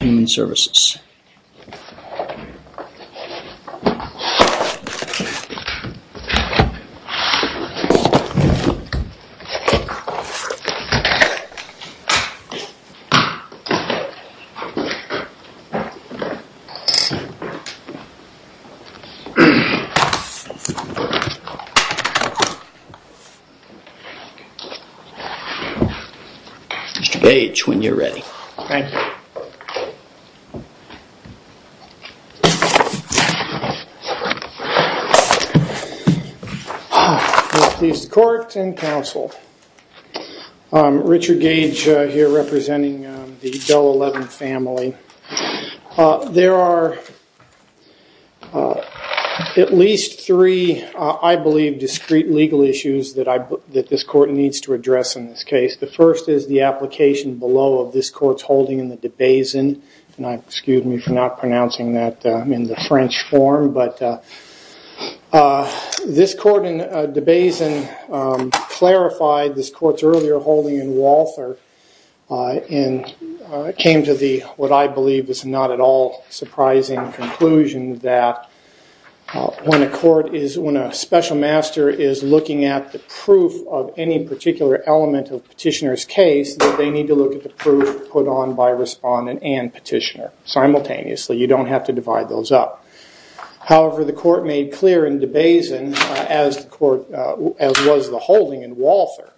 Human Services. Mr. Gage when you're ready. Thank you. Court and counsel. I'm Richard Gage here representing the DOE 11 family. There are at least three, I believe, discrete legal issues that this court needs to address in this case. The first is the application below of this court's holding in the DeBasin. Excuse me for not pronouncing that in the French form. But this court in DeBasin clarified this court's earlier holding in Walther and came to what I believe is not at all surprising conclusion that when a special master is looking at the proof of any particular element of petitioner's case, they need to look at the proof put on by respondent and petitioner simultaneously. You don't have to divide those up. However, the court made clear in DeBasin, as was the holding in Walther,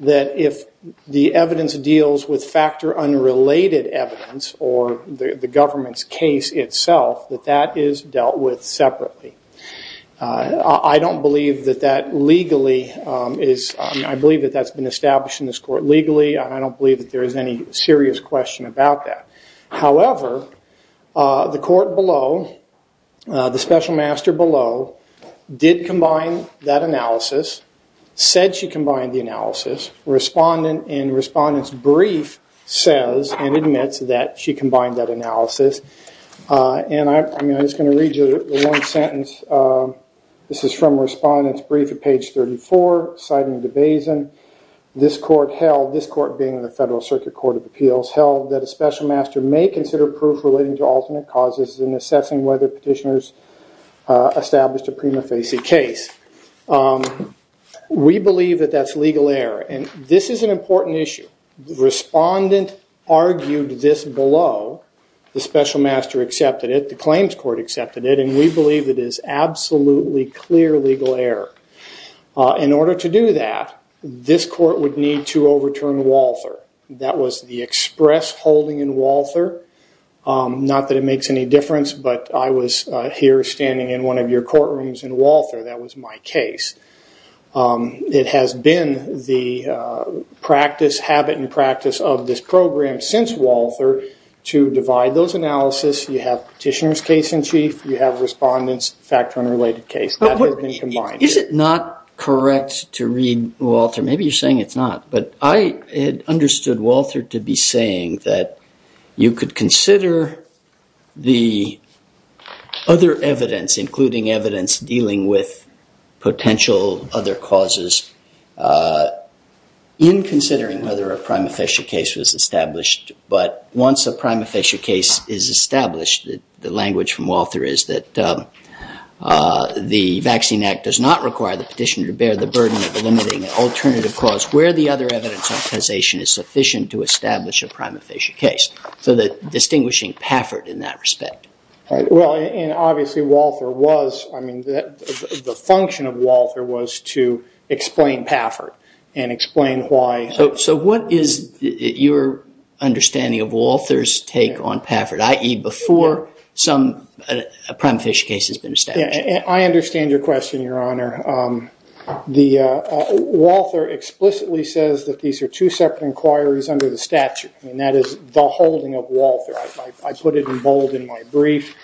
that if the evidence deals with factor unrelated evidence or the government's case itself, that that is dealt with separately. I don't believe that that legally is, I believe that that's been established in this court legally. I don't believe that there is any serious question about that. However, the court below, the special master below, did combine that analysis, said she combined the analysis. Respondent in respondent's brief says and admits that she combined that analysis. And I'm just going to read you one sentence. This is from respondent's brief at page 34, citing DeBasin. This court held, this court being the Federal Circuit Court of Appeals, held that a special master may consider proof relating to alternate causes in assessing whether petitioners established a prima facie case. We believe that that's legal error. And this is an important issue. Respondent argued this below. The special master accepted it. The claims court accepted it. And we believe it is absolutely clear legal error. In order to do that, this court would need to overturn Walther. That was the express holding in Walther. Not that it makes any difference, but I was here standing in one of your courtrooms in Walther. That was my case. It has been the practice, habit and practice of this program since Walther to divide those analysis. You have petitioner's case in chief. You have respondent's factor unrelated case. Is it not correct to read Walther? Maybe you're saying it's not. But I had understood Walther to be saying that you could consider the other evidence, including evidence dealing with potential other causes, in considering whether a prima facie case was established. But once a prima facie case is established, the language from Walther is that the vaccine act does not require the petitioner to bear the burden of eliminating an alternative cause where the other evidence is sufficient to establish a prima facie case. So distinguishing Paffert in that respect. Obviously, the function of Walther was to explain Paffert and explain why. So what is your understanding of Walther's take on Paffert, i.e. before a prima facie case has been established? I understand your question, Your Honor. Walther explicitly says that these are two separate inquiries under the statute. And that is the holding of Walther. I put it in bold in my brief.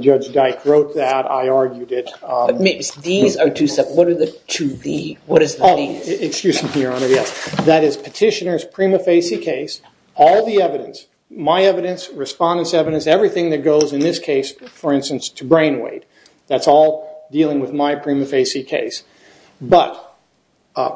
Judge Dyke wrote that. I argued it. These are two separate. What are the two D's? Excuse me, Your Honor. That is petitioner's prima facie case, all the evidence, my evidence, respondent's evidence, everything that goes in this case, for instance, to brain weight. That's all dealing with my prima facie case. But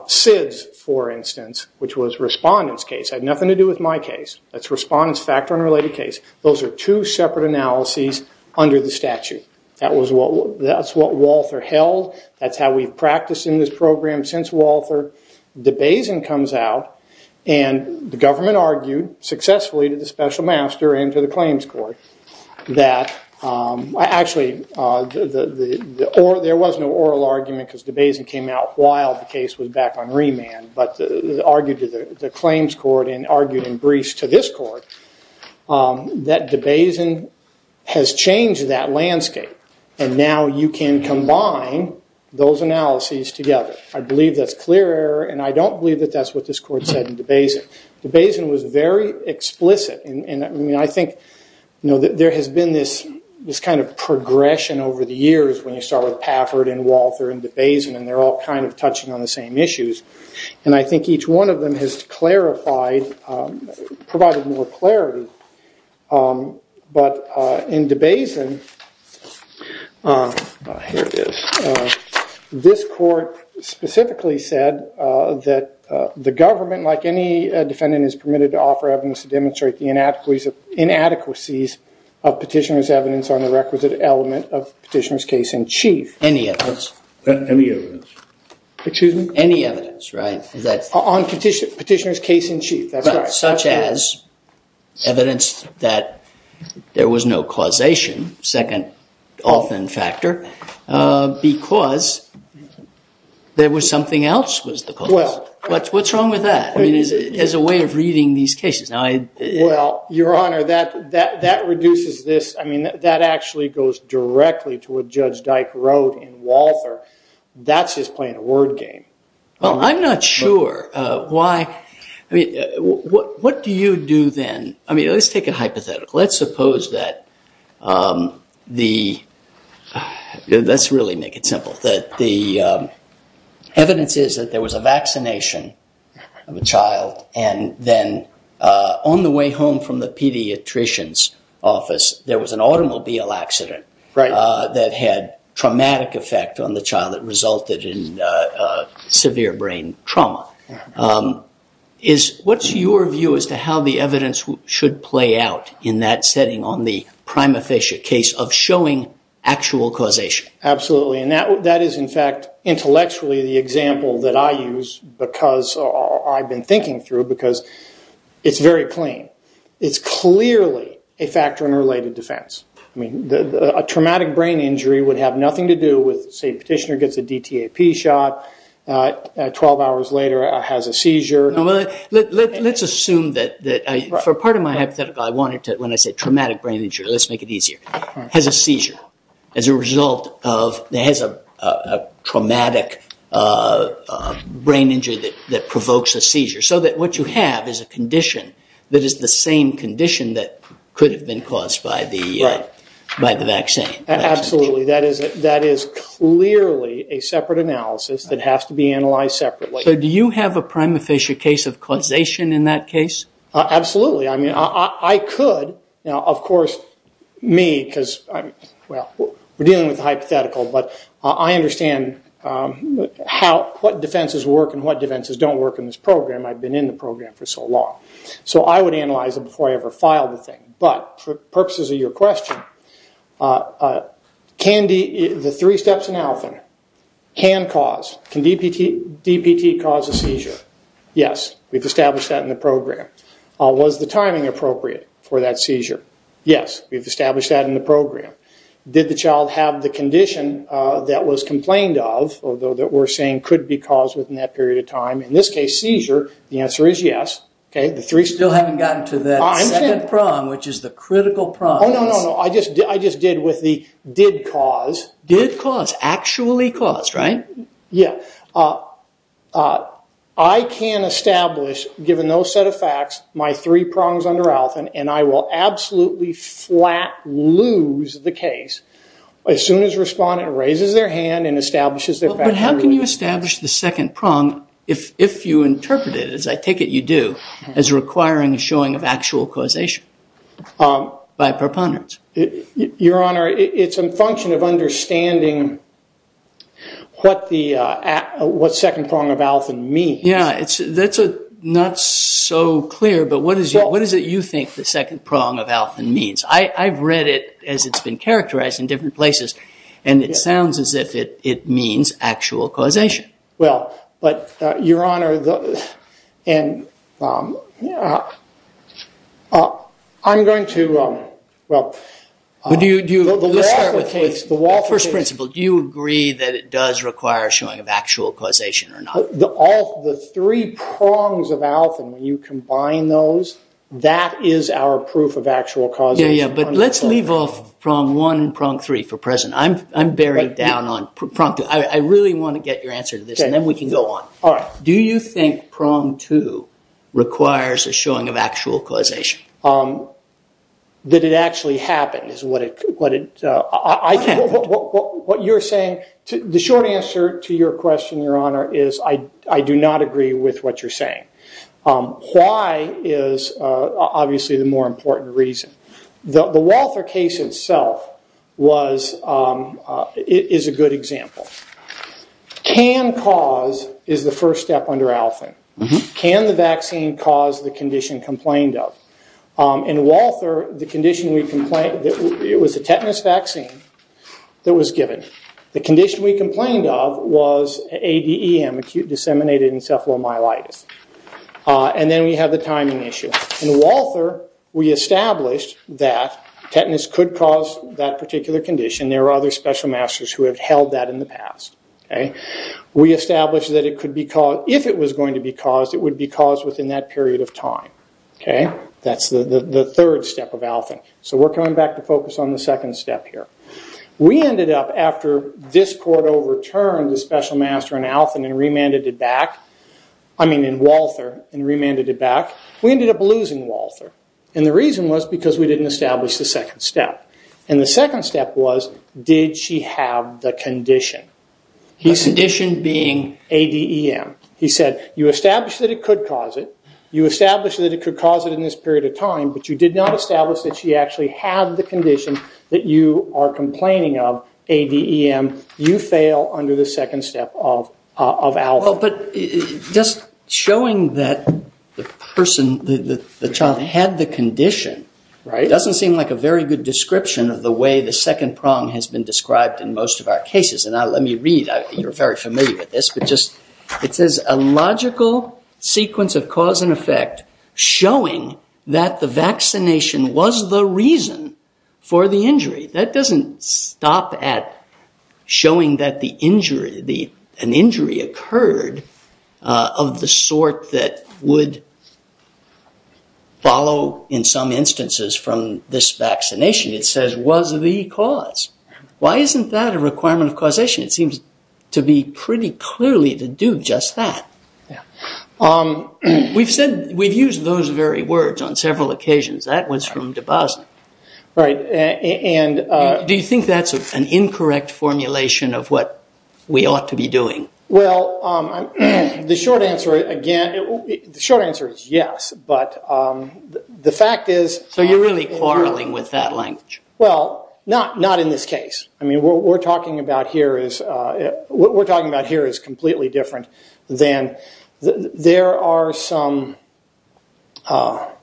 Sid's, for instance, which was respondent's case, had nothing to do with my case. That's respondent's factor unrelated case. Those are two separate analyses under the statute. That's what Walther held. That's how we've practiced in this program since Walther. DeBasin comes out. And the government argued successfully to the special master and to the claims court that actually there was no oral argument because DeBasin came out while the case was back on remand. But argued to the claims court and argued in briefs to this court that DeBasin has changed that landscape. And now you can combine those analyses together. I believe that's clear error, and I don't believe that that's what this court said in DeBasin. DeBasin was very explicit. I think there has been this kind of progression over the years when you start with Pafford and Walther and DeBasin, and they're all kind of touching on the same issues. And I think each one of them has clarified, provided more clarity. But in DeBasin, this court specifically said that the government, like any defendant, is permitted to offer evidence to demonstrate the inadequacies of petitioner's evidence on the requisite element of petitioner's case in chief. Any evidence. Any evidence. Excuse me? Any evidence, right? On petitioner's case in chief. Such as evidence that there was no causation, second often factor, because there was something else was the cause. What's wrong with that as a way of reading these cases? Well, Your Honor, that reduces this. I mean, that actually goes directly to what Judge Dyke wrote in Walther. That's just playing a word game. Well, I'm not sure. I mean, what do you do then? I mean, let's take a hypothetical. Let's suppose that the, let's really make it simple, that the evidence is that there was a vaccination of a child, and then on the way home from the pediatrician's office, there was an automobile accident that had traumatic effect on the child that resulted in severe brain trauma. What's your view as to how the evidence should play out in that setting on the prima facie case of showing actual causation? Absolutely. And that is, in fact, intellectually the example that I use because I've been thinking through because it's very plain. It's clearly a factor in related defense. I mean, a traumatic brain injury would have nothing to do with, say, petitioner gets a DTAP shot, 12 hours later has a seizure. Let's assume that for part of my hypothetical, I wanted to, when I say traumatic brain injury, let's make it easier, has a seizure as a result of, has a traumatic brain injury that provokes a seizure, so that what you have is a condition that is the same condition that could have been caused by the vaccine. Absolutely. That is clearly a separate analysis that has to be analyzed separately. So do you have a prima facie case of causation in that case? Absolutely. I mean, I could. Now, of course, me, because I'm, well, we're dealing with the hypothetical, but I understand how, what defenses work and what defenses don't work in this program. I've been in the program for so long. So I would analyze it before I ever filed the thing. But for purposes of your question, can the three steps in alpha, hand cause, can DPT cause a seizure? Yes. We've established that in the program. Was the timing appropriate for that seizure? Yes. We've established that in the program. Did the child have the condition that was complained of, although that we're saying could be caused within that period of time? In this case, seizure, the answer is yes. Okay. You still haven't gotten to that second prong, which is the critical prongs. Oh, no, no, no. I just did with the did cause. Did cause. Actually caused, right? Yeah. I can establish, given those set of facts, my three prongs under alpha, and I will absolutely flat lose the case as soon as respondent raises their hand and establishes their facts. But how can you establish the second prong if you interpret it, as I take it you do, as requiring a showing of actual causation by proponents? Your Honor, it's a function of understanding what second prong of alpha means. Yeah. That's not so clear, but what is it you think the second prong of alpha means? I've read it as it's been characterized in different places, and it sounds as if it means actual causation. Well, but, Your Honor, I'm going to, well. Let's start with the first principle. Do you agree that it does require a showing of actual causation or not? The three prongs of alpha, when you combine those, that is our proof of actual causation. Yeah, yeah, but let's leave off prong one and prong three for present. I'm buried down on prong two. I really want to get your answer to this, and then we can go on. Do you think prong two requires a showing of actual causation? That it actually happened is what it, I can't. What you're saying, the short answer to your question, Your Honor, is I do not agree with what you're saying. Why is obviously the more important reason. The Walther case itself was, is a good example. Can cause is the first step under alpha. Can the vaccine cause the condition complained of? In Walther, the condition we complained, it was a tetanus vaccine that was given. The condition we complained of was ADEM, acute disseminated encephalomyelitis. And then we have the timing issue. In Walther, we established that tetanus could cause that particular condition. There are other special masters who have held that in the past. We established that if it was going to be caused, it would be caused within that period of time. That's the third step of alpha. So we're coming back to focus on the second step here. We ended up, after this court overturned the special master in Walther and remanded it back, we ended up losing Walther. And the reason was because we didn't establish the second step. And the second step was, did she have the condition? The condition being ADEM. He said, you established that it could cause it. You established that it could cause it in this period of time. But you did not establish that she actually had the condition that you are complaining of, ADEM. You fail under the second step of alpha. Well, but just showing that the child had the condition doesn't seem like a very good description of the way the second prong has been described in most of our cases. And let me read. You're very familiar with this. It says, a logical sequence of cause and effect showing that the vaccination was the reason for the injury. That doesn't stop at showing that an injury occurred of the sort that would follow, in some instances, from this vaccination. It says, was the cause. Why isn't that a requirement of causation? It seems to be pretty clearly to do just that. We've said, we've used those very words on several occasions. That was from Dabasin. Right. And do you think that's an incorrect formulation of what we ought to be doing? Well, the short answer, again, the short answer is yes. But the fact is. So you're really quarreling with that language. Well, not in this case. I mean, what we're talking about here is completely different than. There are some. What?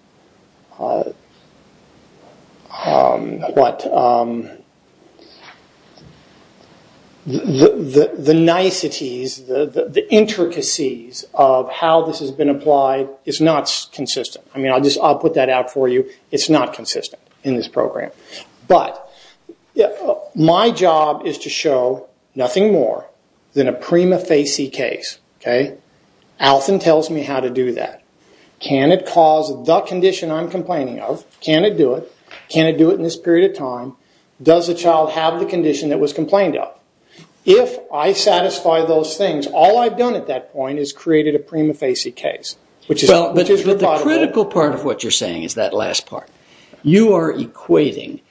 The niceties, the intricacies of how this has been applied is not consistent. I mean, I'll put that out for you. It's not consistent in this program. But my job is to show nothing more than a prima facie case. Okay? Alton tells me how to do that. Can it cause the condition I'm complaining of? Can it do it? Can it do it in this period of time? Does the child have the condition that was complained of? If I satisfy those things, all I've done at that point is created a prima facie case. But the critical part of what you're saying is that last part. You are equating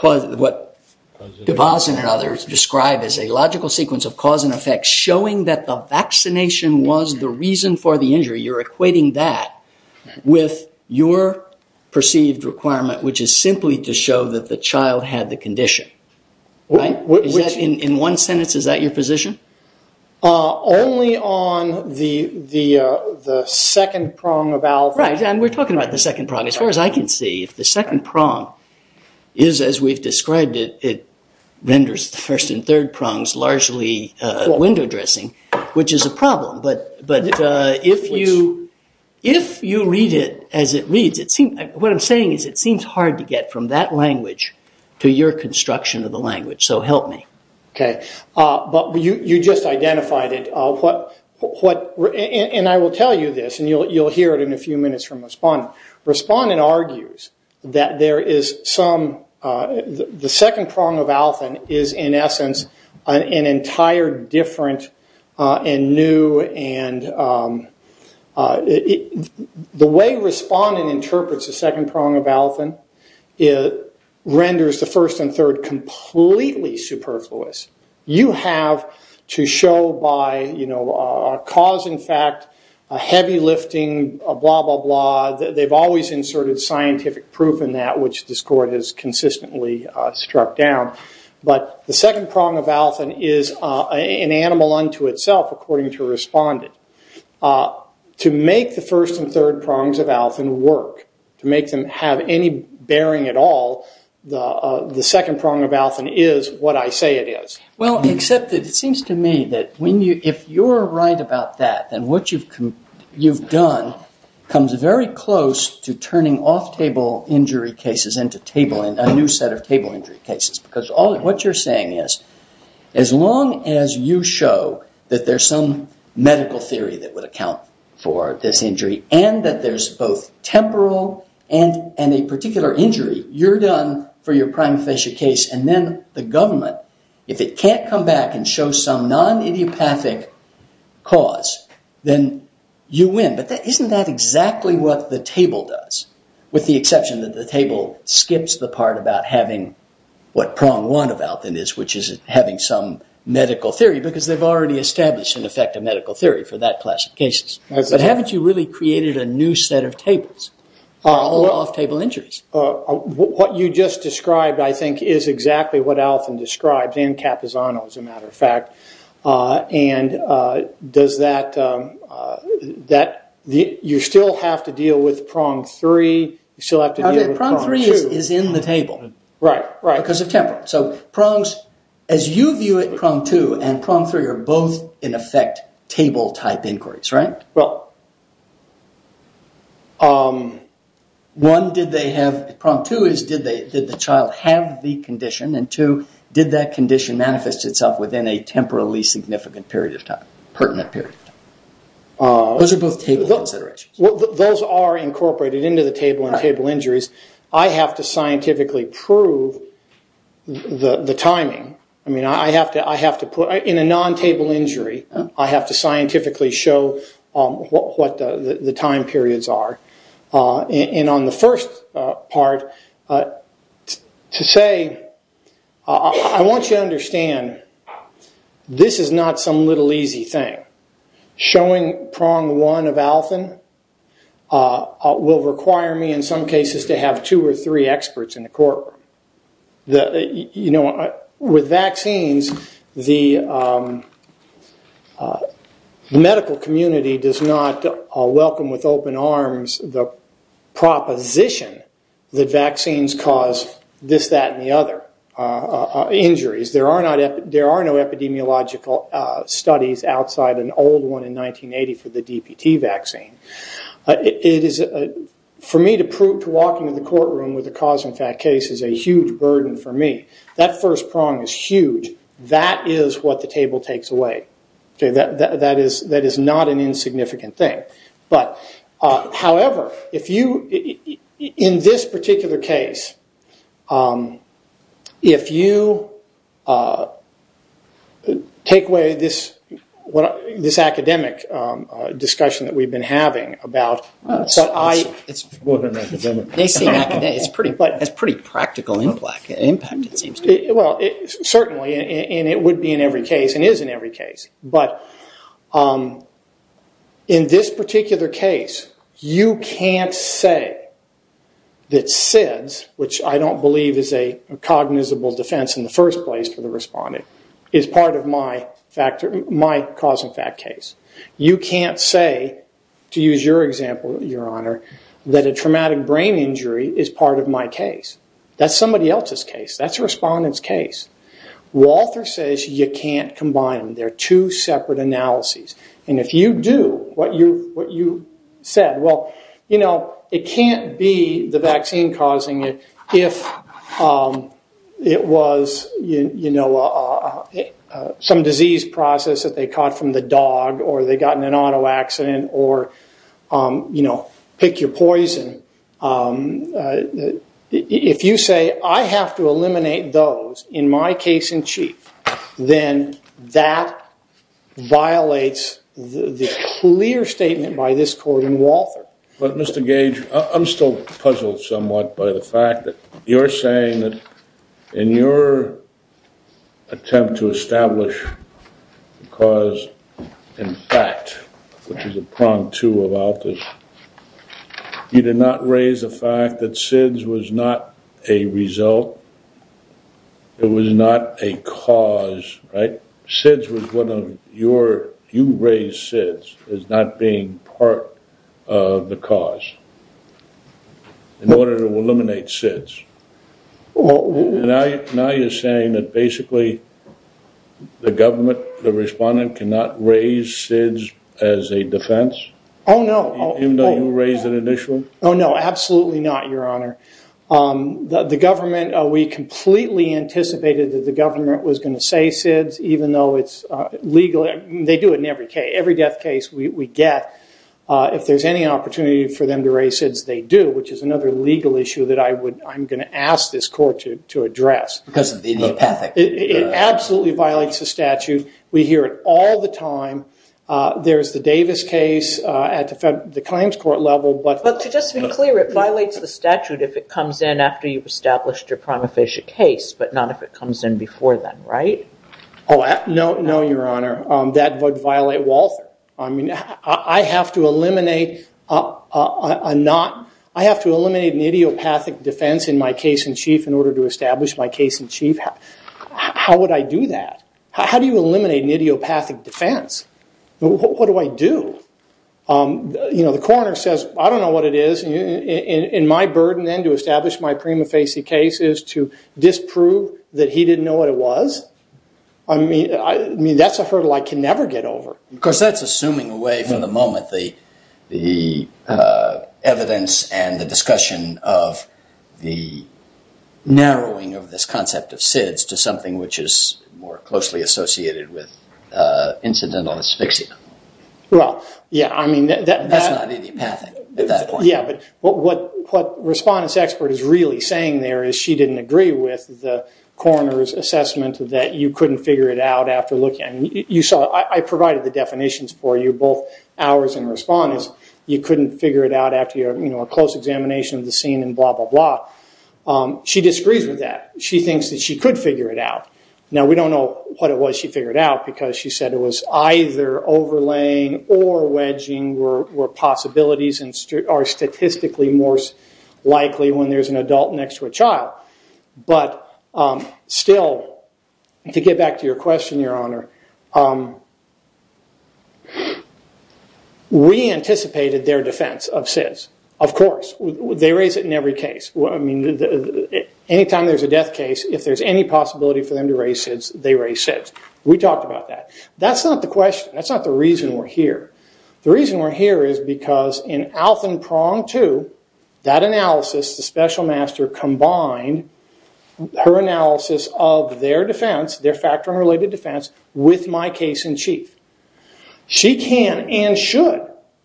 what DeVos and others describe as a logical sequence of cause and effect, showing that the vaccination was the reason for the injury. You're equating that with your perceived requirement, which is simply to show that the child had the condition. In one sentence, is that your position? Only on the second prong of Alton. Right. We're talking about the second prong. As far as I can see, if the second prong is as we've described it, it renders the first and third prongs largely window dressing, which is a problem. But if you read it as it reads, what I'm saying is it seems hard to get from that language to your construction of the language. So help me. Okay. But you just identified it. And I will tell you this, and you'll hear it in a few minutes from Respondent. Respondent argues that the second prong of Alton is, in essence, an entire different and new. The way Respondent interprets the second prong of Alton renders the first and third completely superfluous. You have to show by cause and fact, heavy lifting, blah, blah, blah. They've always inserted scientific proof in that, which this court has consistently struck down. But the second prong of Alton is an animal unto itself, according to Respondent. To make the first and third prongs of Alton work, to make them have any bearing at all, the second prong of Alton is what I say it is. Well, except that it seems to me that if you're right about that, then what you've done comes very close to turning off-table injury cases into a new set of table injury cases. Because what you're saying is, as long as you show that there's some medical theory that would account for this injury, and that there's both temporal and a particular injury, you're done for your prima facie case. And then the government, if it can't come back and show some non-idiopathic cause, then you win. But isn't that exactly what the table does? With the exception that the table skips the part about having what prong one of Alton is, which is having some medical theory, because they've already established, in effect, a medical theory for that class of cases. But haven't you really created a new set of tables for off-table injuries? What you just described, I think, is exactly what Alton describes, and Capizano, as a matter of fact. And does that... you still have to deal with prong three, you still have to deal with prong two. Okay, prong three is in the table. Right, right. Because of temporal. Right, so prongs, as you view it, prong two and prong three are both, in effect, table-type inquiries, right? One, did they have... prong two is, did the child have the condition? And two, did that condition manifest itself within a temporally significant period of time, pertinent period of time? Those are both table considerations. Those are incorporated into the table in table injuries. I have to scientifically prove the timing. I mean, I have to put... in a non-table injury, I have to scientifically show what the time periods are. And on the first part, to say, I want you to understand, this is not some little easy thing. Showing prong one of Alfin will require me, in some cases, to have two or three experts in the courtroom. You know, with vaccines, the medical community does not welcome with open arms the proposition that vaccines cause this, that, and the other injuries. There are no epidemiological studies outside an old one in 1980 for the DPT vaccine. For me, to prove to walk into the courtroom with a cause-and-effect case is a huge burden for me. That first prong is huge. That is what the table takes away. That is not an insignificant thing. However, in this particular case, if you take away this academic discussion that we have been having about... That is a pretty practical impact, it seems to me. Certainly, and it would be in every case, and is in every case. But in this particular case, you can't say that SIDS, which I don't believe is a cognizable defense in the first place for the respondent, is part of my cause-and-effect case. You can't say, to use your example, your honor, that a traumatic brain injury is part of my case. That is somebody else's case. That is a respondent's case. Walther says you can't combine them. They are two separate analyses. If you do what you said, it can't be the vaccine causing it if it was some disease process that they caught from the dog, or they got in an auto accident, or pick your poison. If you say, I have to eliminate those in my case-in-chief, then that violates the clear statement by this court in Walther. But Mr. Gage, I'm still puzzled somewhat by the fact that you're saying that in your attempt to establish the cause in fact, which is a prong to about this, you did not raise the fact that SIDS was not a result. It was not a cause, right? SIDS was one of your-you raised SIDS as not being part of the cause in order to eliminate SIDS. Now you're saying that basically the government, the respondent, cannot raise SIDS as a defense? Oh, no. Even though you raised an initial? Oh, no, absolutely not, Your Honor. The government, we completely anticipated that the government was going to say SIDS, even though it's legal. They do it in every death case we get. If there's any opportunity for them to raise SIDS, they do, which is another legal issue that I'm going to ask this court to address. Because of the idiopathic? It absolutely violates the statute. We hear it all the time. There's the Davis case at the claims court level, but- But to just be clear, it violates the statute if it comes in after you've established your prima facie case, but not if it comes in before then, right? Oh, no, Your Honor. That would violate Walther. I mean, I have to eliminate an idiopathic defense in my case in chief in order to establish my case in chief? How would I do that? How do you eliminate an idiopathic defense? What do I do? The coroner says, I don't know what it is, and my burden then to establish my prima facie case is to disprove that he didn't know what it was? I mean, that's a hurdle I can never get over. Of course, that's assuming away from the moment the evidence and the discussion of the narrowing of this concept of SIDS to something which is more closely associated with incidental asphyxia. Well, yeah, I mean- That's not idiopathic at that point. Yeah, but what Respondent's expert is really saying there is she didn't agree with the coroner's assessment that you couldn't figure it out after looking. I provided the definitions for you, both ours and Respondent's. You couldn't figure it out after a close examination of the scene and blah, blah, blah. She disagrees with that. She thinks that she could figure it out. Now, we don't know what it was she figured out because she said it was either overlaying or wedging were possibilities and are statistically more likely when there's an adult next to a child. Still, to get back to your question, Your Honor, we anticipated their defense of SIDS. Of course, they raise it in every case. Anytime there's a death case, if there's any possibility for them to raise SIDS, they raise SIDS. We talked about that. That's not the question. That's not the reason we're here. The reason we're here is because in Alton Prong II, that analysis, the special master combined her analysis of their defense, their factor unrelated defense, with my case in chief. She can and should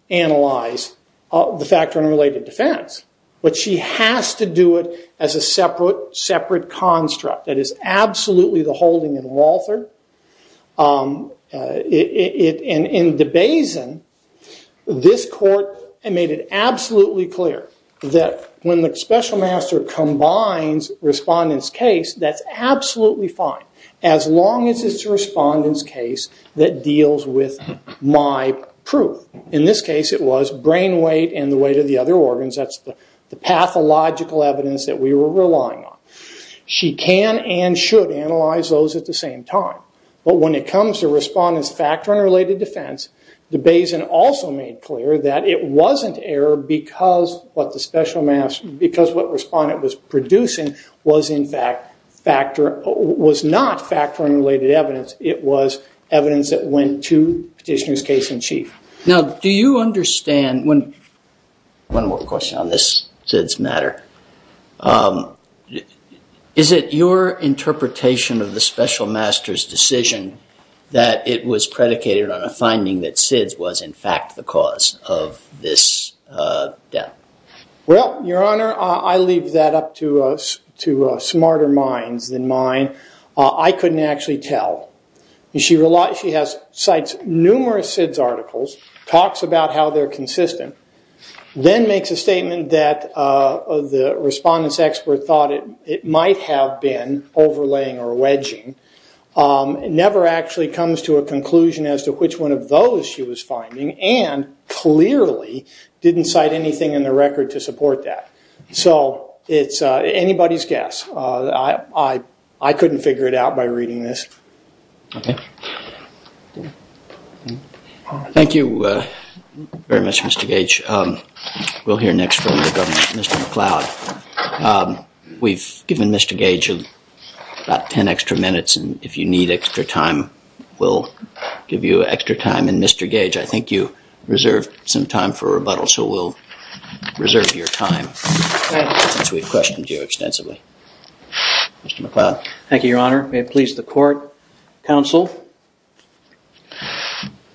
analyze the factor unrelated defense, but she has to do it as a separate construct. That is absolutely the holding in Walther. In DeBasin, this court made it absolutely clear that when the special master combines respondent's case, that's absolutely fine as long as it's a respondent's case that deals with my proof. In this case, it was brain weight and the weight of the other organs. That's the pathological evidence that we were relying on. She can and should analyze those at the same time. When it comes to respondent's factor unrelated defense, DeBasin also made clear that it wasn't error because what the respondent was producing was not factor unrelated evidence. It was evidence that went to petitioner's case in chief. Now, do you understand, one more question on this SIDS matter, is it your interpretation of the special master's decision that it was predicated on a finding that SIDS was in fact the cause of this death? Well, your honor, I leave that up to smarter minds than mine. I couldn't actually tell. She cites numerous SIDS articles, talks about how they're consistent, then makes a statement that the respondent's expert thought it might have been overlaying or wedging, never actually comes to a conclusion as to which one of those she was finding, and clearly didn't cite anything in the record to support that. So, it's anybody's guess. I couldn't figure it out by reading this. Okay. Thank you very much, Mr. Gage. We'll hear next from Mr. McLeod. We've given Mr. Gage about ten extra minutes, and if you need extra time, we'll give you extra time. And Mr. Gage, I think you reserved some time for rebuttal, so we'll reserve your time, since we've questioned you extensively. Mr. McLeod. Thank you, your honor. May it please the court, counsel.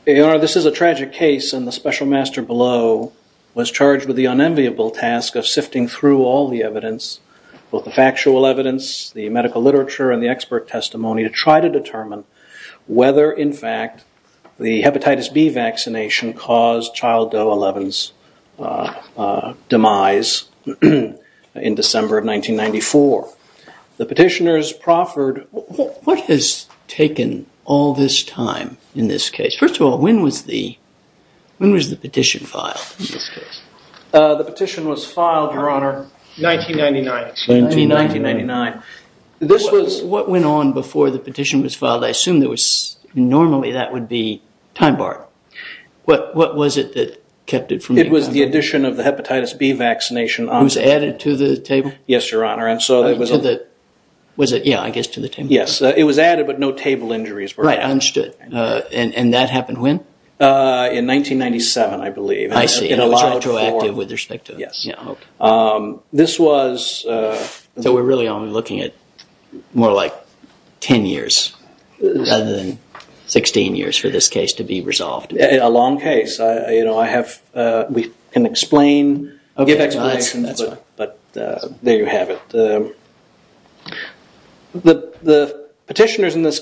Your honor, this is a tragic case, and the special master below was charged with the unenviable task of sifting through all the evidence, both the factual evidence, the medical literature, and the expert testimony to try to determine whether, in fact, the hepatitis B vaccination caused child Doe 11's demise in December of 1994. The petitioners proffered... What has taken all this time in this case? First of all, when was the petition filed in this case? The petition was filed, your honor, 1999. 1999. This was... What went on before the petition was filed? I assume normally that would be time bar. What was it that kept it from being filed? It was the addition of the hepatitis B vaccination. It was added to the table? Yes, your honor. Was it, yeah, I guess to the table. Yes, it was added, but no table injuries were added. Right, understood. And that happened when? In 1997, I believe. I see. It was retroactive with respect to... Yes. This was... So we're really only looking at more like 10 years rather than 16 years for this case to be resolved. A long case. You know, I have... We can explain... There you have it. The petitioners in this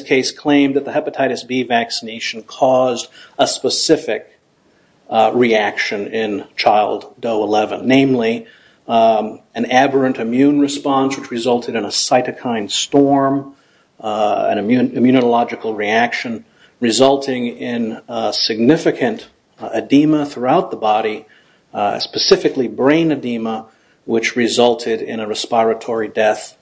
case claimed that the hepatitis B vaccination caused a specific reaction in child DOE-11, namely an aberrant immune response which resulted in a cytokine storm, an immunological reaction resulting in significant edema throughout the body, specifically brain edema, which resulted in a respiratory death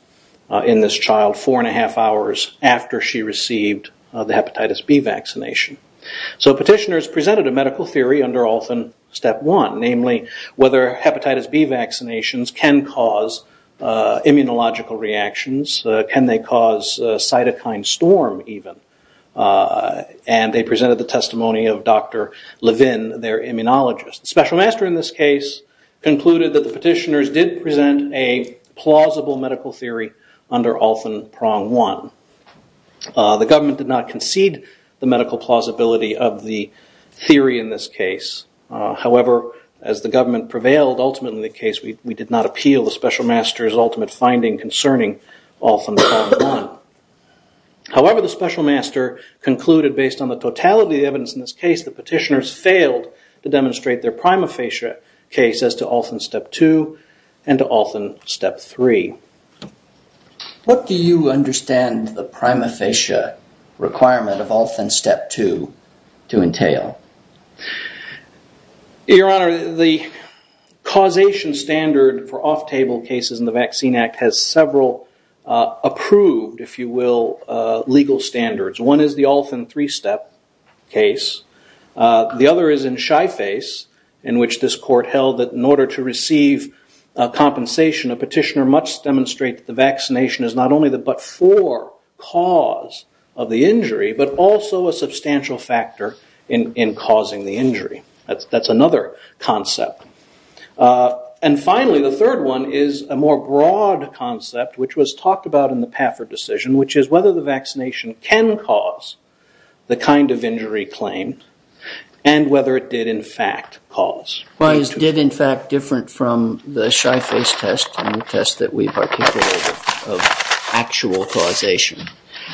in this child four and a half hours after she received the hepatitis B vaccination. So petitioners presented a medical theory under Olfen Step 1, namely whether hepatitis B vaccinations can cause immunological reactions. Can they cause a cytokine storm even? And they presented the testimony of Dr. Levin, their immunologist. The special master in this case concluded that the petitioners did present a plausible medical theory under Olfen Prong 1. The government did not concede the medical plausibility of the theory in this case. However, as the government prevailed, ultimately in the case, we did not appeal the special master's ultimate finding concerning Olfen Prong 1. However, the special master concluded, based on the totality of the evidence in this case, the petitioners failed to demonstrate their prima facie case as to Olfen Step 2 and to Olfen Step 3. What do you understand the prima facie requirement of Olfen Step 2 to entail? Your Honor, the causation standard for off-table cases in the Vaccine Act has several approved, if you will, legal standards. One is the Olfen 3-step case. The other is in shy face, in which this court held that in order to receive compensation, a petitioner must demonstrate that the vaccination is not only the but-for cause of the injury, but also a substantial factor in causing the injury. That's another concept. And finally, the third one is a more broad concept, which was talked about in the Pafford decision, which is whether the vaccination can cause the kind of injury claimed and whether it did, in fact, cause. Why is did, in fact, different from the shy face test and the test that we've articulated of actual causation?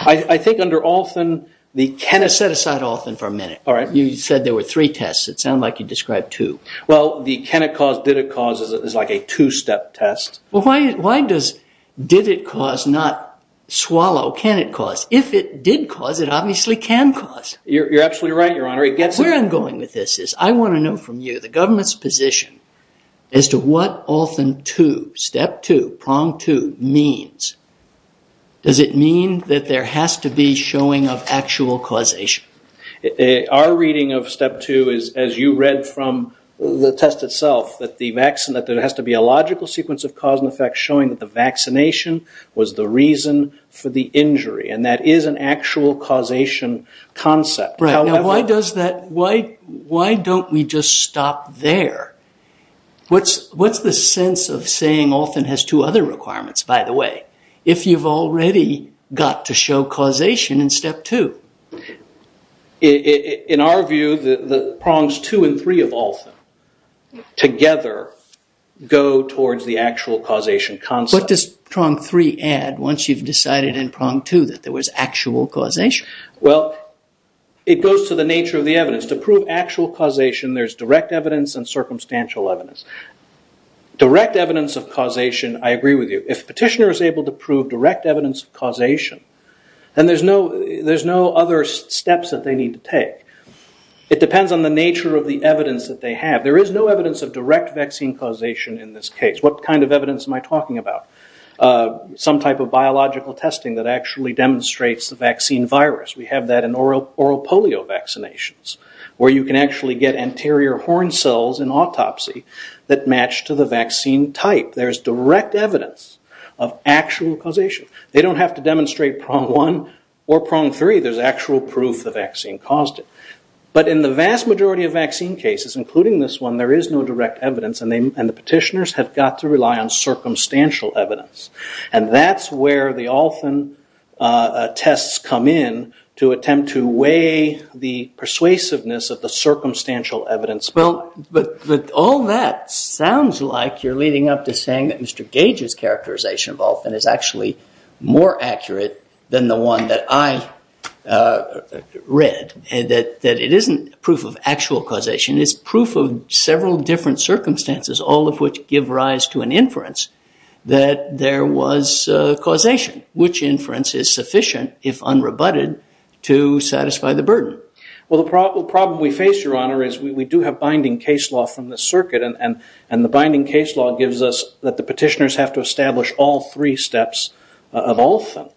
I think under Olfen, the can of set aside Olfen for a minute. All right. You said there were three tests. It sounded like you described two. Well, the can it cause, did it cause is like a two-step test. Well, why does did it cause not swallow can it cause? If it did cause, it obviously can cause. You're absolutely right, Your Honor. Where I'm going with this is I want to know from you the government's position as to what Olfen 2, step 2, prong 2 means. Does it mean that there has to be showing of actual causation? Our reading of step 2 is, as you read from the test itself, that there has to be a logical sequence of cause and effect showing that the vaccination was the reason for the injury, and that is an actual causation concept. Why don't we just stop there? What's the sense of saying Olfen has two other requirements, by the way, if you've already got to show causation in step 2? In our view, the prongs 2 and 3 of Olfen together go towards the actual causation concept. What does prong 3 add once you've decided in prong 2 that there was actual causation? Well, it goes to the nature of the evidence. To prove actual causation, there's direct evidence and circumstantial evidence. Direct evidence of causation, I agree with you. If a petitioner is able to prove direct evidence of causation, then there's no other steps that they need to take. It depends on the nature of the evidence that they have. There is no evidence of direct vaccine causation in this case. What kind of evidence am I talking about? Some type of biological testing that actually demonstrates the vaccine virus. We have that in oral polio vaccinations, where you can actually get anterior horn cells in autopsy that match to the vaccine type. There's direct evidence of actual causation. They don't have to demonstrate prong 1 or prong 3. There's actual proof the vaccine caused it. But in the vast majority of vaccine cases, including this one, there is no direct evidence, and the petitioners have got to rely on circumstantial evidence. That's where the Olfen tests come in to attempt to weigh the persuasiveness of the circumstantial evidence. But all that sounds like you're leading up to saying that Mr. Gage's characterization of Olfen is actually more accurate than the one that I read, that it isn't proof of actual causation, it's proof of several different circumstances, all of which give rise to an inference that there was causation. Which inference is sufficient, if unrebutted, to satisfy the burden? Well, the problem we face, Your Honor, is we do have binding case law from the circuit, and the binding case law gives us that the petitioners have to establish all three steps of Olfen.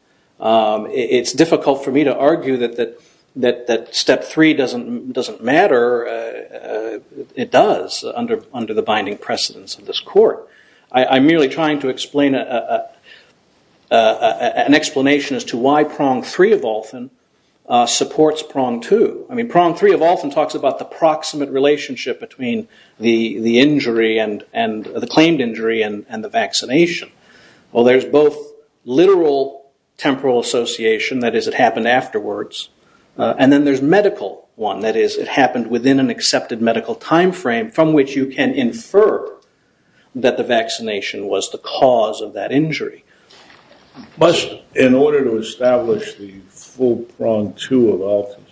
It's difficult for me to argue that step 3 doesn't matter. It does, under the binding precedence of this court. I'm merely trying to explain an explanation as to why prong 3 of Olfen supports prong 2. I mean, prong 3 of Olfen talks about the proximate relationship between the claimed injury and the vaccination. Well, there's both literal temporal association, that is, it happened afterwards, and then there's medical one, that is, it happened within an accepted medical time frame, from which you can infer that the vaccination was the cause of that injury. In order to establish the full prong 2 of Olfen,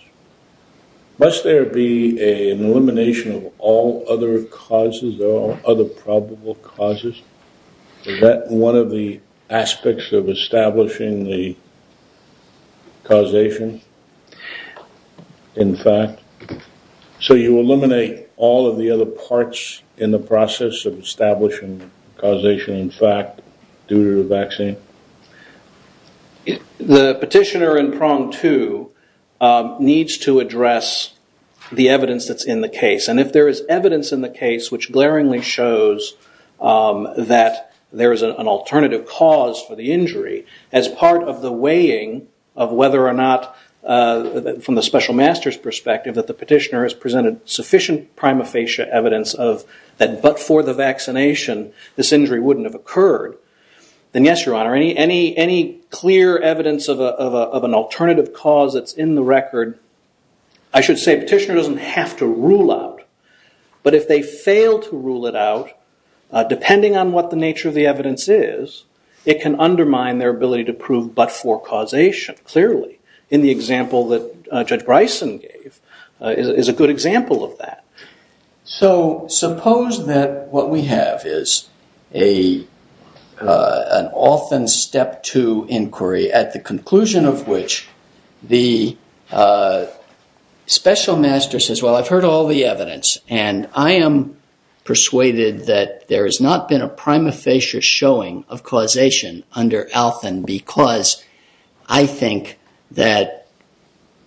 must there be an elimination of all other causes, all other probable causes? Is that one of the aspects of establishing the causation, in fact? So you eliminate all of the other parts in the process of establishing causation, in fact, due to the vaccine? The petitioner in prong 2 needs to address the evidence that's in the case, and if there is evidence in the case which glaringly shows that there is an alternative cause for the injury, as part of the weighing of whether or not, from the special master's perspective, that the petitioner has presented sufficient prima facie evidence that but for the vaccination, this injury wouldn't have occurred, then yes, Your Honor, any clear evidence of an alternative cause that's in the record, I should say a petitioner doesn't have to rule out, but if they fail to rule it out, depending on what the nature of the evidence is, it can undermine their ability to prove but for causation, clearly. In the example that Judge Bryson gave is a good example of that. So suppose that what we have is an Olfen step 2 inquiry, at the conclusion of which the special master says, well, I've heard all the evidence, and I am persuaded that there has not been a prima facie showing of causation under Olfen, because I think that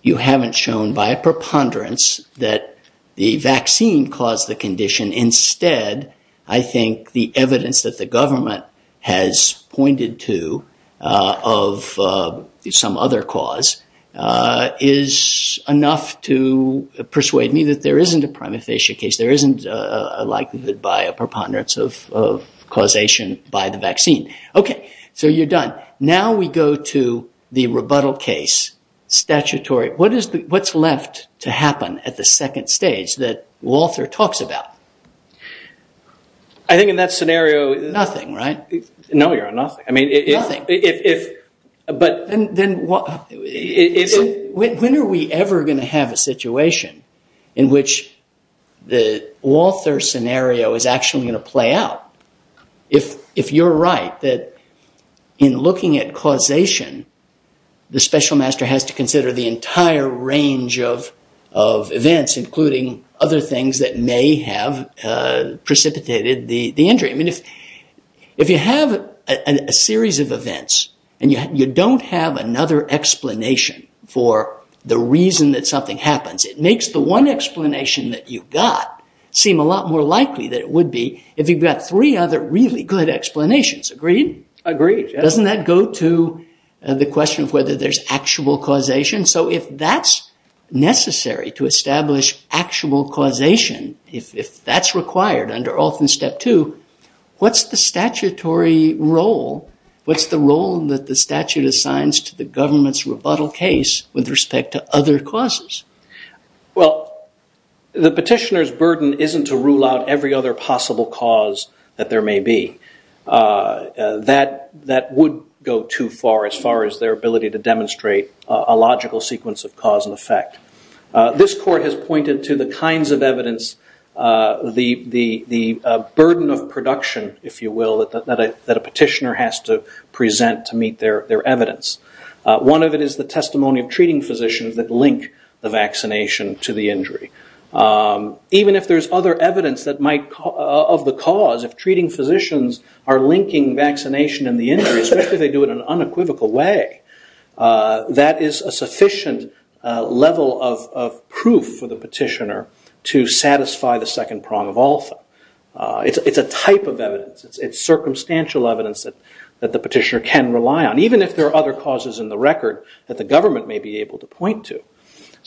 you haven't shown by a preponderance that the vaccine caused the condition. Instead, I think the evidence that the government has pointed to of some other cause is enough to persuade me that there isn't a prima facie case, there isn't a likelihood by a preponderance of causation by the vaccine. Okay, so you're done. Now we go to the rebuttal case, statutory. What's left to happen at the second stage that Walther talks about? I think in that scenario... Nothing, right? No, Your Honor, nothing. When are we ever going to have a situation in which the Walther scenario is actually going to play out? If you're right that in looking at causation, the special master has to consider the entire range of events, including other things that may have precipitated the injury. If you have a series of events and you don't have another explanation for the reason that something happens, it makes the one explanation that you've got seem a lot more likely than it would be if you've got three other really good explanations. Agreed? Agreed. Doesn't that go to the question of whether there's actual causation? So if that's necessary to establish actual causation, if that's required under often step two, what's the statutory role? What's the role that the statute assigns to the government's rebuttal case with respect to other causes? Well, the petitioner's burden isn't to rule out every other possible cause that there may be. That would go too far as far as their ability to demonstrate a logical sequence of cause and effect. This court has pointed to the kinds of evidence, the burden of production, if you will, that a petitioner has to present to meet their evidence. One of it is the testimony of treating physicians that link the vaccination to the injury. Even if there's other evidence of the cause, if treating physicians are linking vaccination and the injury, especially if they do it in an unequivocal way, that is a sufficient level of proof for the petitioner to satisfy the second prong of alpha. It's a type of evidence. It's circumstantial evidence that the petitioner can rely on, even if there are other causes in the record that the government may be able to point to.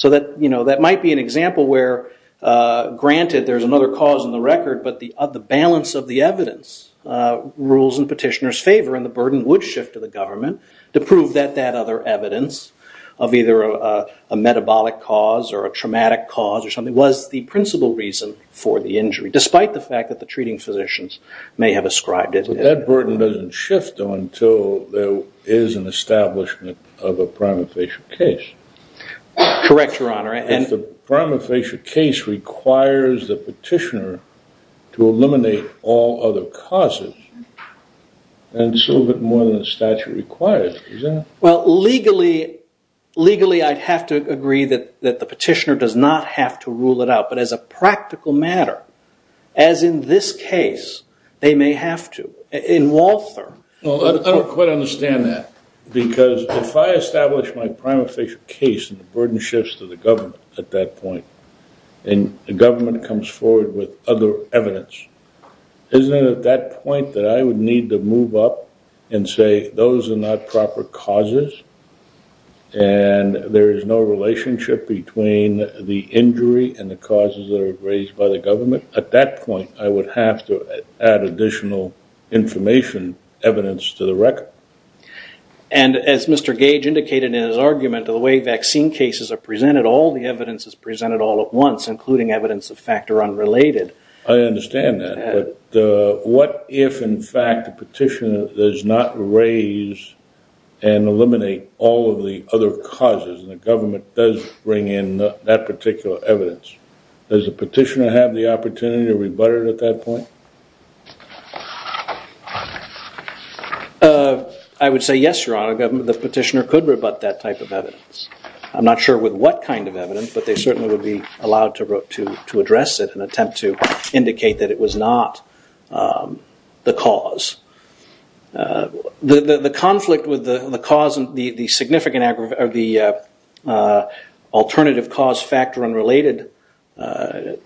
That might be an example where, granted, there's another cause in the record, but the balance of the evidence rules in petitioner's favor, and the burden would shift to the government to prove that that other evidence of either a metabolic cause or a traumatic cause or something was the principal reason for the injury, despite the fact that the treating physicians may have ascribed it. But that burden doesn't shift until there is an establishment of a prima facie case. Correct, Your Honor. If the prima facie case requires the petitioner to eliminate all other causes, then so be it more than the statute requires, isn't it? Well, legally, I'd have to agree that the petitioner does not have to rule it out. But as a practical matter, as in this case, they may have to. In Walther. Well, I don't quite understand that. Because if I establish my prima facie case and the burden shifts to the government at that point, and the government comes forward with other evidence, isn't it at that point that I would need to move up and say those are not proper causes and there is no relationship between the injury and the causes that are raised by the government? At that point, I would have to add additional information, evidence to the record. And as Mr. Gage indicated in his argument, the way vaccine cases are presented, all the evidence is presented all at once, including evidence of factor unrelated. I understand that. But what if, in fact, the petitioner does not raise and eliminate all of the other causes and the government does bring in that particular evidence? Does the petitioner have the opportunity to rebut it at that point? I would say yes, Your Honor. The petitioner could rebut that type of evidence. I'm not sure with what kind of evidence, but they certainly would be allowed to address it and attempt to indicate that it was not the cause. The conflict with the alternative cause factor unrelated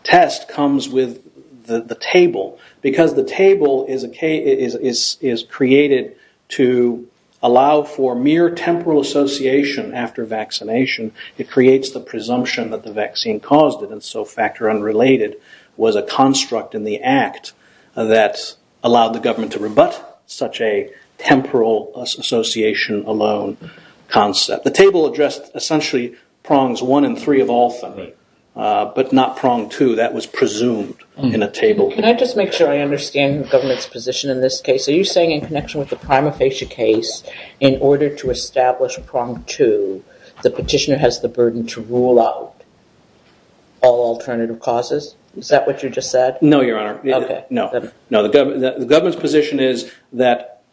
test comes with the table. Because the table is created to allow for mere temporal association after vaccination, it creates the presumption that the vaccine caused it, and so factor unrelated was a construct in the act that allowed the government to rebut such a temporal association alone concept. The table addressed essentially prongs one and three of all three, but not prong two. That was presumed in a table. Can I just make sure I understand the government's position in this case? Are you saying in connection with the prima facie case, in order to establish prong two, the petitioner has the burden to rule out all alternative causes? Is that what you just said? No, Your Honor. Okay. No, the government's position is that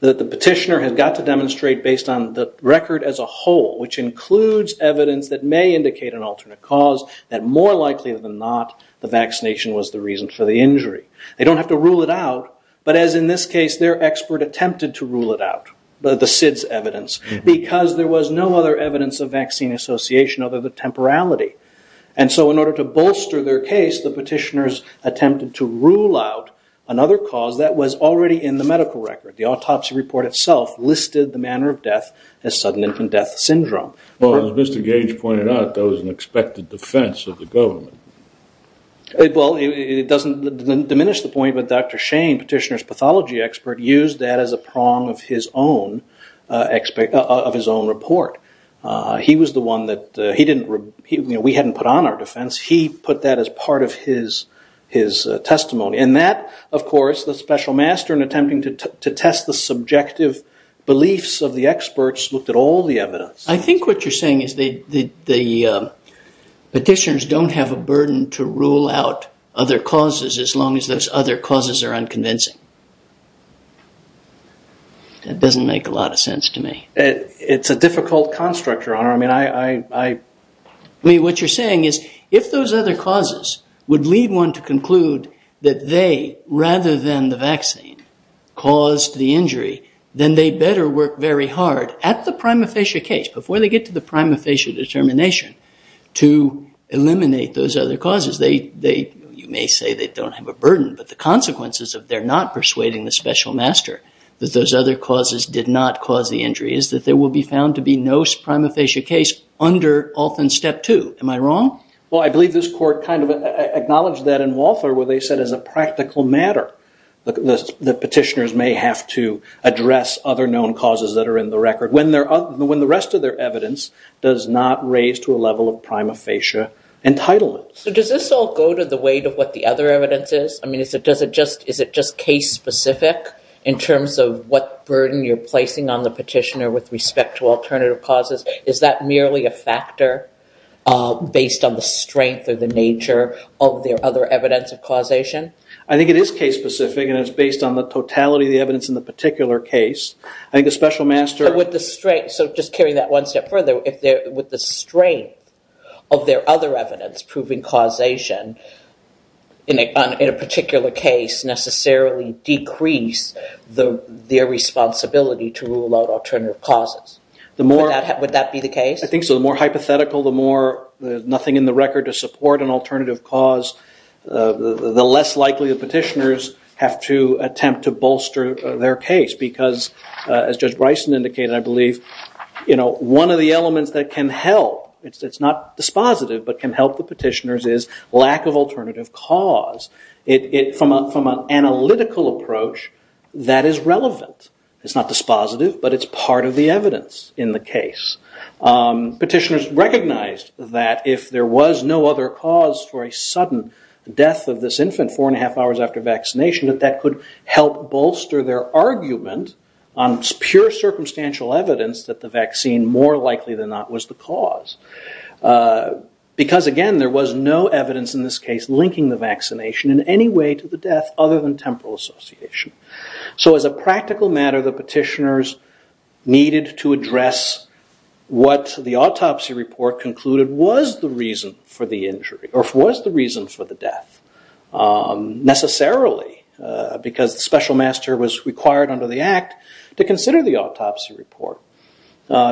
the petitioner has got to demonstrate based on the record as a whole, which includes evidence that may indicate an alternate cause, that more likely than not the vaccination was the reason for the injury. They don't have to rule it out, but as in this case, their expert attempted to rule it out, the SIDS evidence, because there was no other evidence of vaccine association other than temporality. And so in order to bolster their case, the petitioners attempted to rule out another cause that was already in the medical record. The autopsy report itself listed the manner of death as sudden infant death syndrome. Well, as Mr. Gage pointed out, that was an expected defense of the government. Well, it doesn't diminish the point, but Dr. Shane, petitioner's pathology expert, used that as a prong of his own report. He was the one that we hadn't put on our defense. He put that as part of his testimony, and that, of course, the special master in attempting to test the subjective beliefs of the experts looked at all the evidence. I think what you're saying is the petitioners don't have a burden to rule out other causes, as long as those other causes are unconvincing. That doesn't make a lot of sense to me. It's a difficult construct, Your Honor. What you're saying is if those other causes would lead one to conclude that they, rather than the vaccine, caused the injury, then they better work very hard at the prima facie case, before they get to the prima facie determination, to eliminate those other causes. You may say they don't have a burden, but the consequences of their not persuading the special master that those other causes did not cause the injury is that there will be found to be no prima facie case under often step two. Am I wrong? Well, I believe this court kind of acknowledged that in Walther where they said as a practical matter that petitioners may have to address other known causes that are in the record when the rest of their evidence does not raise to a level of prima facie entitlement. So does this all go to the weight of what the other evidence is? I mean, is it just case specific in terms of what burden you're placing on the petitioner with respect to alternative causes? Is that merely a factor based on the strength or the nature of their other evidence of causation? I think it is case specific and it's based on the totality of the evidence in the particular case. I think the special master... So just carrying that one step further, with the strength of their other evidence proving causation in a particular case necessarily decrease their responsibility to rule out alternative causes. Would that be the case? I think so. The more hypothetical, the more nothing in the record to support an alternative cause, the less likely the petitioners have to attempt to bolster their case. Because as Judge Bryson indicated, I believe one of the elements that can help, it's not dispositive, but can help the petitioners is lack of alternative cause. From an analytical approach, that is relevant. It's not dispositive, but it's part of the evidence in the case. Petitioners recognized that if there was no other cause for a sudden death of this infant four and a half hours after vaccination, that that could help bolster their argument on pure circumstantial evidence that the vaccine more likely than not was the cause. Because again, there was no evidence in this case linking the vaccination in any way to the death other than temporal association. So as a practical matter, the petitioners needed to address what the autopsy report concluded was the reason for the injury or was the reason for the death necessarily because the special master was required under the act to consider the autopsy report.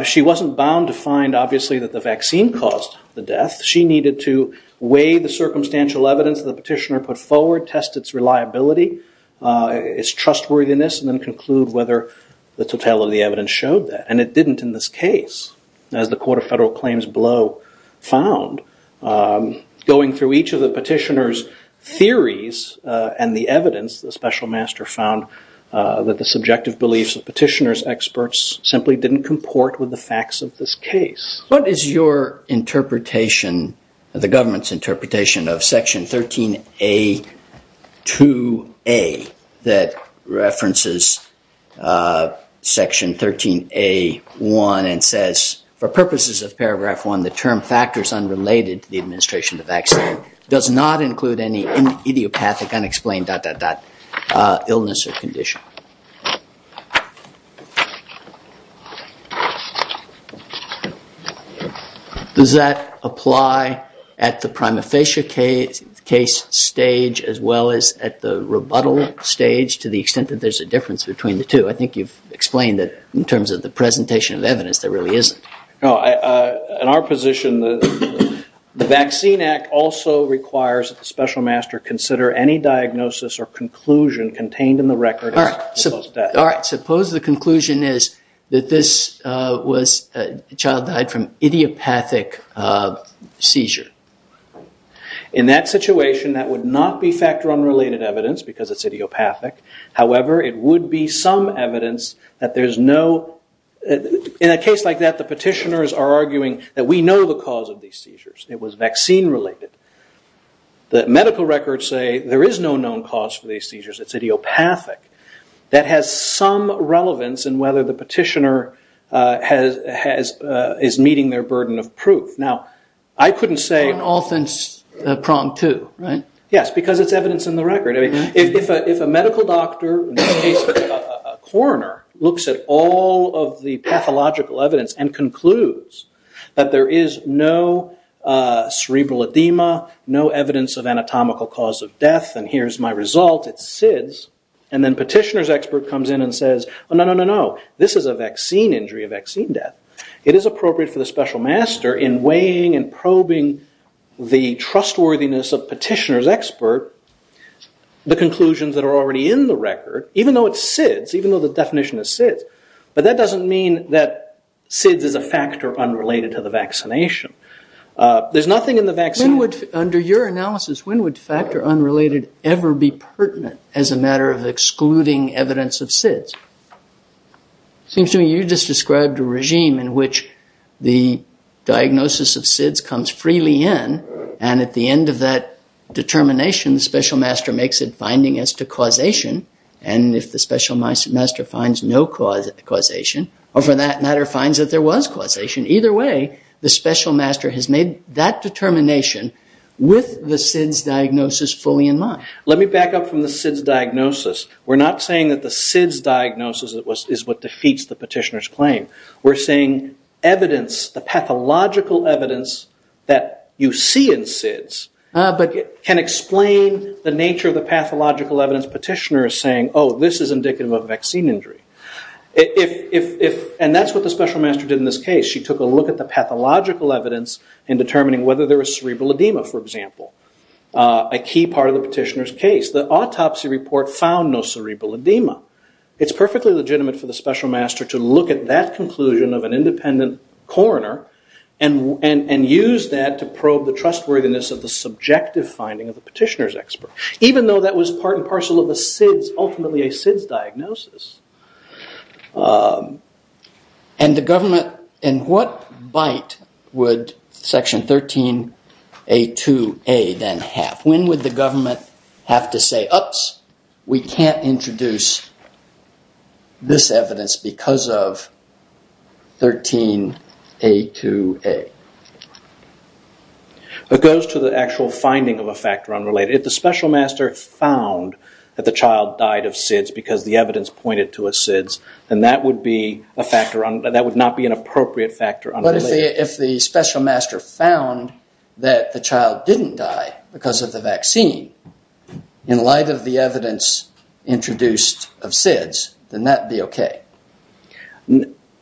She wasn't bound to find obviously that the vaccine caused the death. She needed to weigh the circumstantial evidence the petitioner put forward, test its reliability, its trustworthiness, and then conclude whether the totality of the evidence showed that. And it didn't in this case, as the Court of Federal Claims below found. Going through each of the petitioners' theories and the evidence, the special master found that the subjective beliefs of petitioners' experts simply didn't comport with the facts of this case. What is your interpretation of the government's interpretation of Section 13A2A that references Section 13A1 and says, for purposes of Paragraph 1, the term factors unrelated to the administration of the vaccine does not include any idiopathic, unexplained, dot, dot, dot, illness or condition? Does that apply at the prima facie case stage as well as at the rebuttal stage to the extent that there's a difference between the two? I think you've explained that in terms of the presentation of evidence there really isn't. In our position, the Vaccine Act also requires that the special master consider any diagnosis or conclusion contained in the record. All right, suppose the conclusion is that this child died from idiopathic seizure. In that situation, that would not be factor unrelated evidence because it's idiopathic. However, it would be some evidence that there's no... Petitioners are arguing that we know the cause of these seizures. It was vaccine related. The medical records say there is no known cause for these seizures. It's idiopathic. That has some relevance in whether the petitioner is meeting their burden of proof. Now, I couldn't say... On offense, prompt too, right? Yes, because it's evidence in the record. If a medical doctor, in this case a coroner, looks at all of the pathological evidence and concludes that there is no cerebral edema, no evidence of anatomical cause of death, and here's my result, it's SIDS, and then petitioner's expert comes in and says, no, no, no, no, this is a vaccine injury, a vaccine death. It is appropriate for the special master, in weighing and probing the trustworthiness of petitioner's expert, the conclusions that are already in the record, even though it's SIDS, even though the definition is SIDS, but that doesn't mean that SIDS is a factor unrelated to the vaccination. There's nothing in the vaccine... Under your analysis, when would factor unrelated ever be pertinent as a matter of excluding evidence of SIDS? It seems to me you just described a regime in which the diagnosis of SIDS comes freely in, and at the end of that determination, the special master makes a finding as to causation, and if the special master finds no causation, or for that matter finds that there was causation, either way, the special master has made that determination with the SIDS diagnosis fully in mind. Let me back up from the SIDS diagnosis. We're not saying that the SIDS diagnosis is what defeats the petitioner's claim. We're saying evidence, the pathological evidence that you see in SIDS, but can explain the nature of the pathological evidence the petitioner is saying, oh, this is indicative of a vaccine injury. And that's what the special master did in this case. She took a look at the pathological evidence in determining whether there was cerebral edema, for example, a key part of the petitioner's case. The autopsy report found no cerebral edema. It's perfectly legitimate for the special master to look at that conclusion of an independent coroner and use that to probe the trustworthiness of the subjective finding of the petitioner's expert, even though that was part and parcel of the SIDS, ultimately a SIDS diagnosis. And the government, in what bite would Section 13A2A then have? When would the government have to say, we can't introduce this evidence because of 13A2A? It goes to the actual finding of a factor unrelated. If the special master found that the child died of SIDS because the evidence pointed to a SIDS, then that would not be an appropriate factor unrelated. But if the special master found that the child didn't die because of the vaccine, in light of the evidence introduced of SIDS, then that would be okay.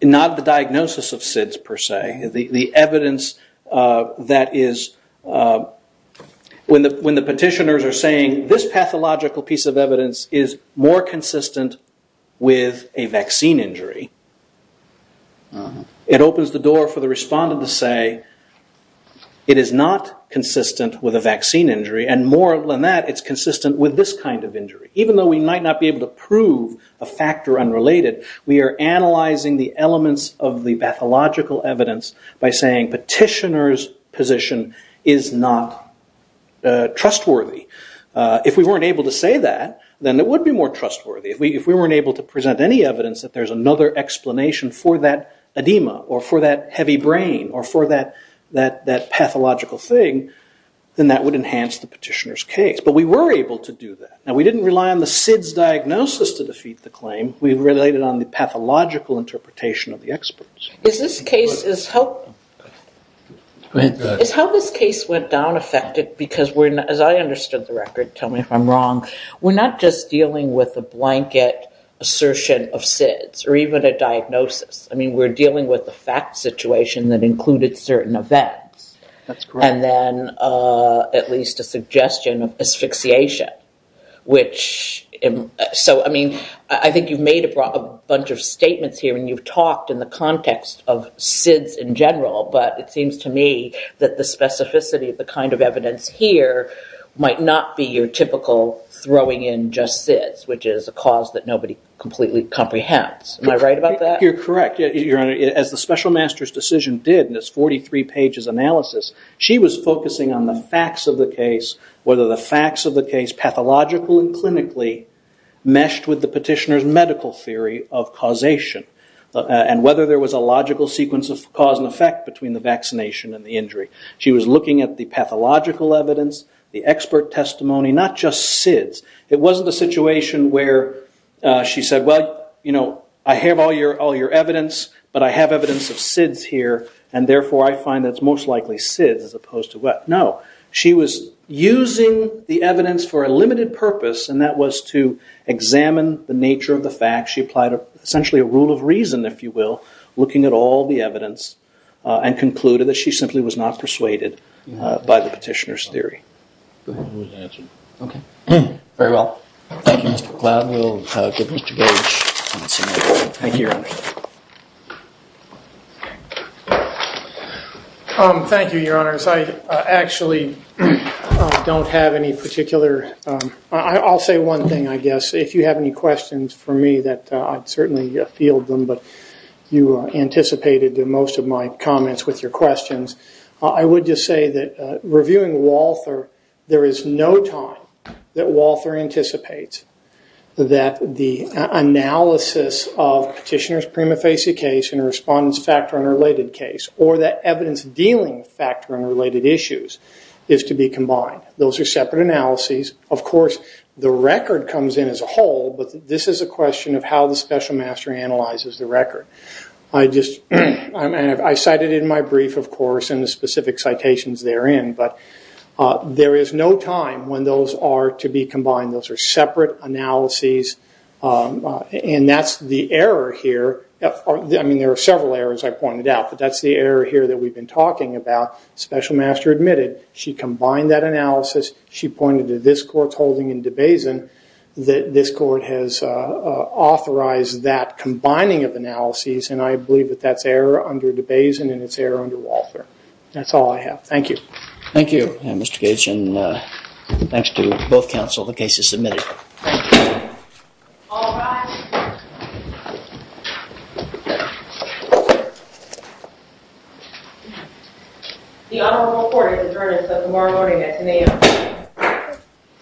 Not the diagnosis of SIDS, per se. The evidence that is... When the petitioners are saying, this pathological piece of evidence is more consistent with a vaccine injury, it opens the door for the respondent to say, it is not consistent with a vaccine injury, and more than that, it's consistent with this kind of injury. Even though we might not be able to prove a factor unrelated, we are analyzing the elements of the pathological evidence by saying, petitioner's position is not trustworthy. If we weren't able to say that, then it would be more trustworthy. If we weren't able to present any evidence that there's another explanation for that edema, or for that heavy brain, or for that pathological thing, then that would enhance the petitioner's case. But we were able to do that. Now, we didn't rely on the SIDS diagnosis to defeat the claim. We related on the pathological interpretation of the experts. Is this case... Is how this case went down affected? Because, as I understood the record, tell me if I'm wrong, we're not just dealing with a blanket assertion of SIDS, or even a diagnosis. I mean, we're dealing with a fact situation that included certain events. That's correct. And then, at least a suggestion of asphyxiation, which... So, I mean, I think you've made a bunch of statements here, and you've talked in the context of SIDS in general, but it seems to me that the specificity of the kind of evidence here might not be your typical throwing in just SIDS, which is a cause that nobody completely comprehends. Am I right about that? I think you're correct. As the special master's decision did in this 43 pages analysis, she was focusing on the facts of the case, whether the facts of the case, pathological and clinically, meshed with the petitioner's medical theory of causation, and whether there was a logical sequence of cause and effect between the vaccination and the injury. She was looking at the pathological evidence, the expert testimony, not just SIDS. It wasn't a situation where she said, well, you know, I have all your evidence, but I have evidence of SIDS here, and therefore I find that it's most likely SIDS as opposed to what? No. She was using the evidence for a limited purpose, and that was to examine the nature of the facts. She applied essentially a rule of reason, if you will, looking at all the evidence, and concluded that she simply was not persuaded by the petitioner's theory. Go ahead. Very well. Thank you, Mr. McLeod. We'll give Mr. Gage a minute. Thank you, Your Honor. Thank you, Your Honors. I actually don't have any particular. I'll say one thing, I guess. If you have any questions for me, I'd certainly field them, but you anticipated most of my comments with your questions. I would just say that reviewing Walther, there is no time that Walther anticipates that the analysis of petitioner's prima facie case and a respondent's factor unrelated case or that evidence dealing with factor unrelated issues is to be combined. Those are separate analyses. Of course, the record comes in as a whole, but this is a question of how the special master analyzes the record. I cited it in my brief, of course, and the specific citations therein, but there is no time when those are to be combined. Those are separate analyses, and that's the error here. I mean, there are several errors I pointed out, but that's the error here that we've been talking about. Special master admitted she combined that analysis. She pointed to this court's holding in DeBasin that this court has authorized that combining of analyses, and I believe that that's error under DeBasin and it's error under Walther. That's all I have. Thank you. Thank you, Mr. Gage, and thanks to both counsel. The case is submitted. Thank you. All rise. The honorable court has adjourned until tomorrow morning at 10 a.m.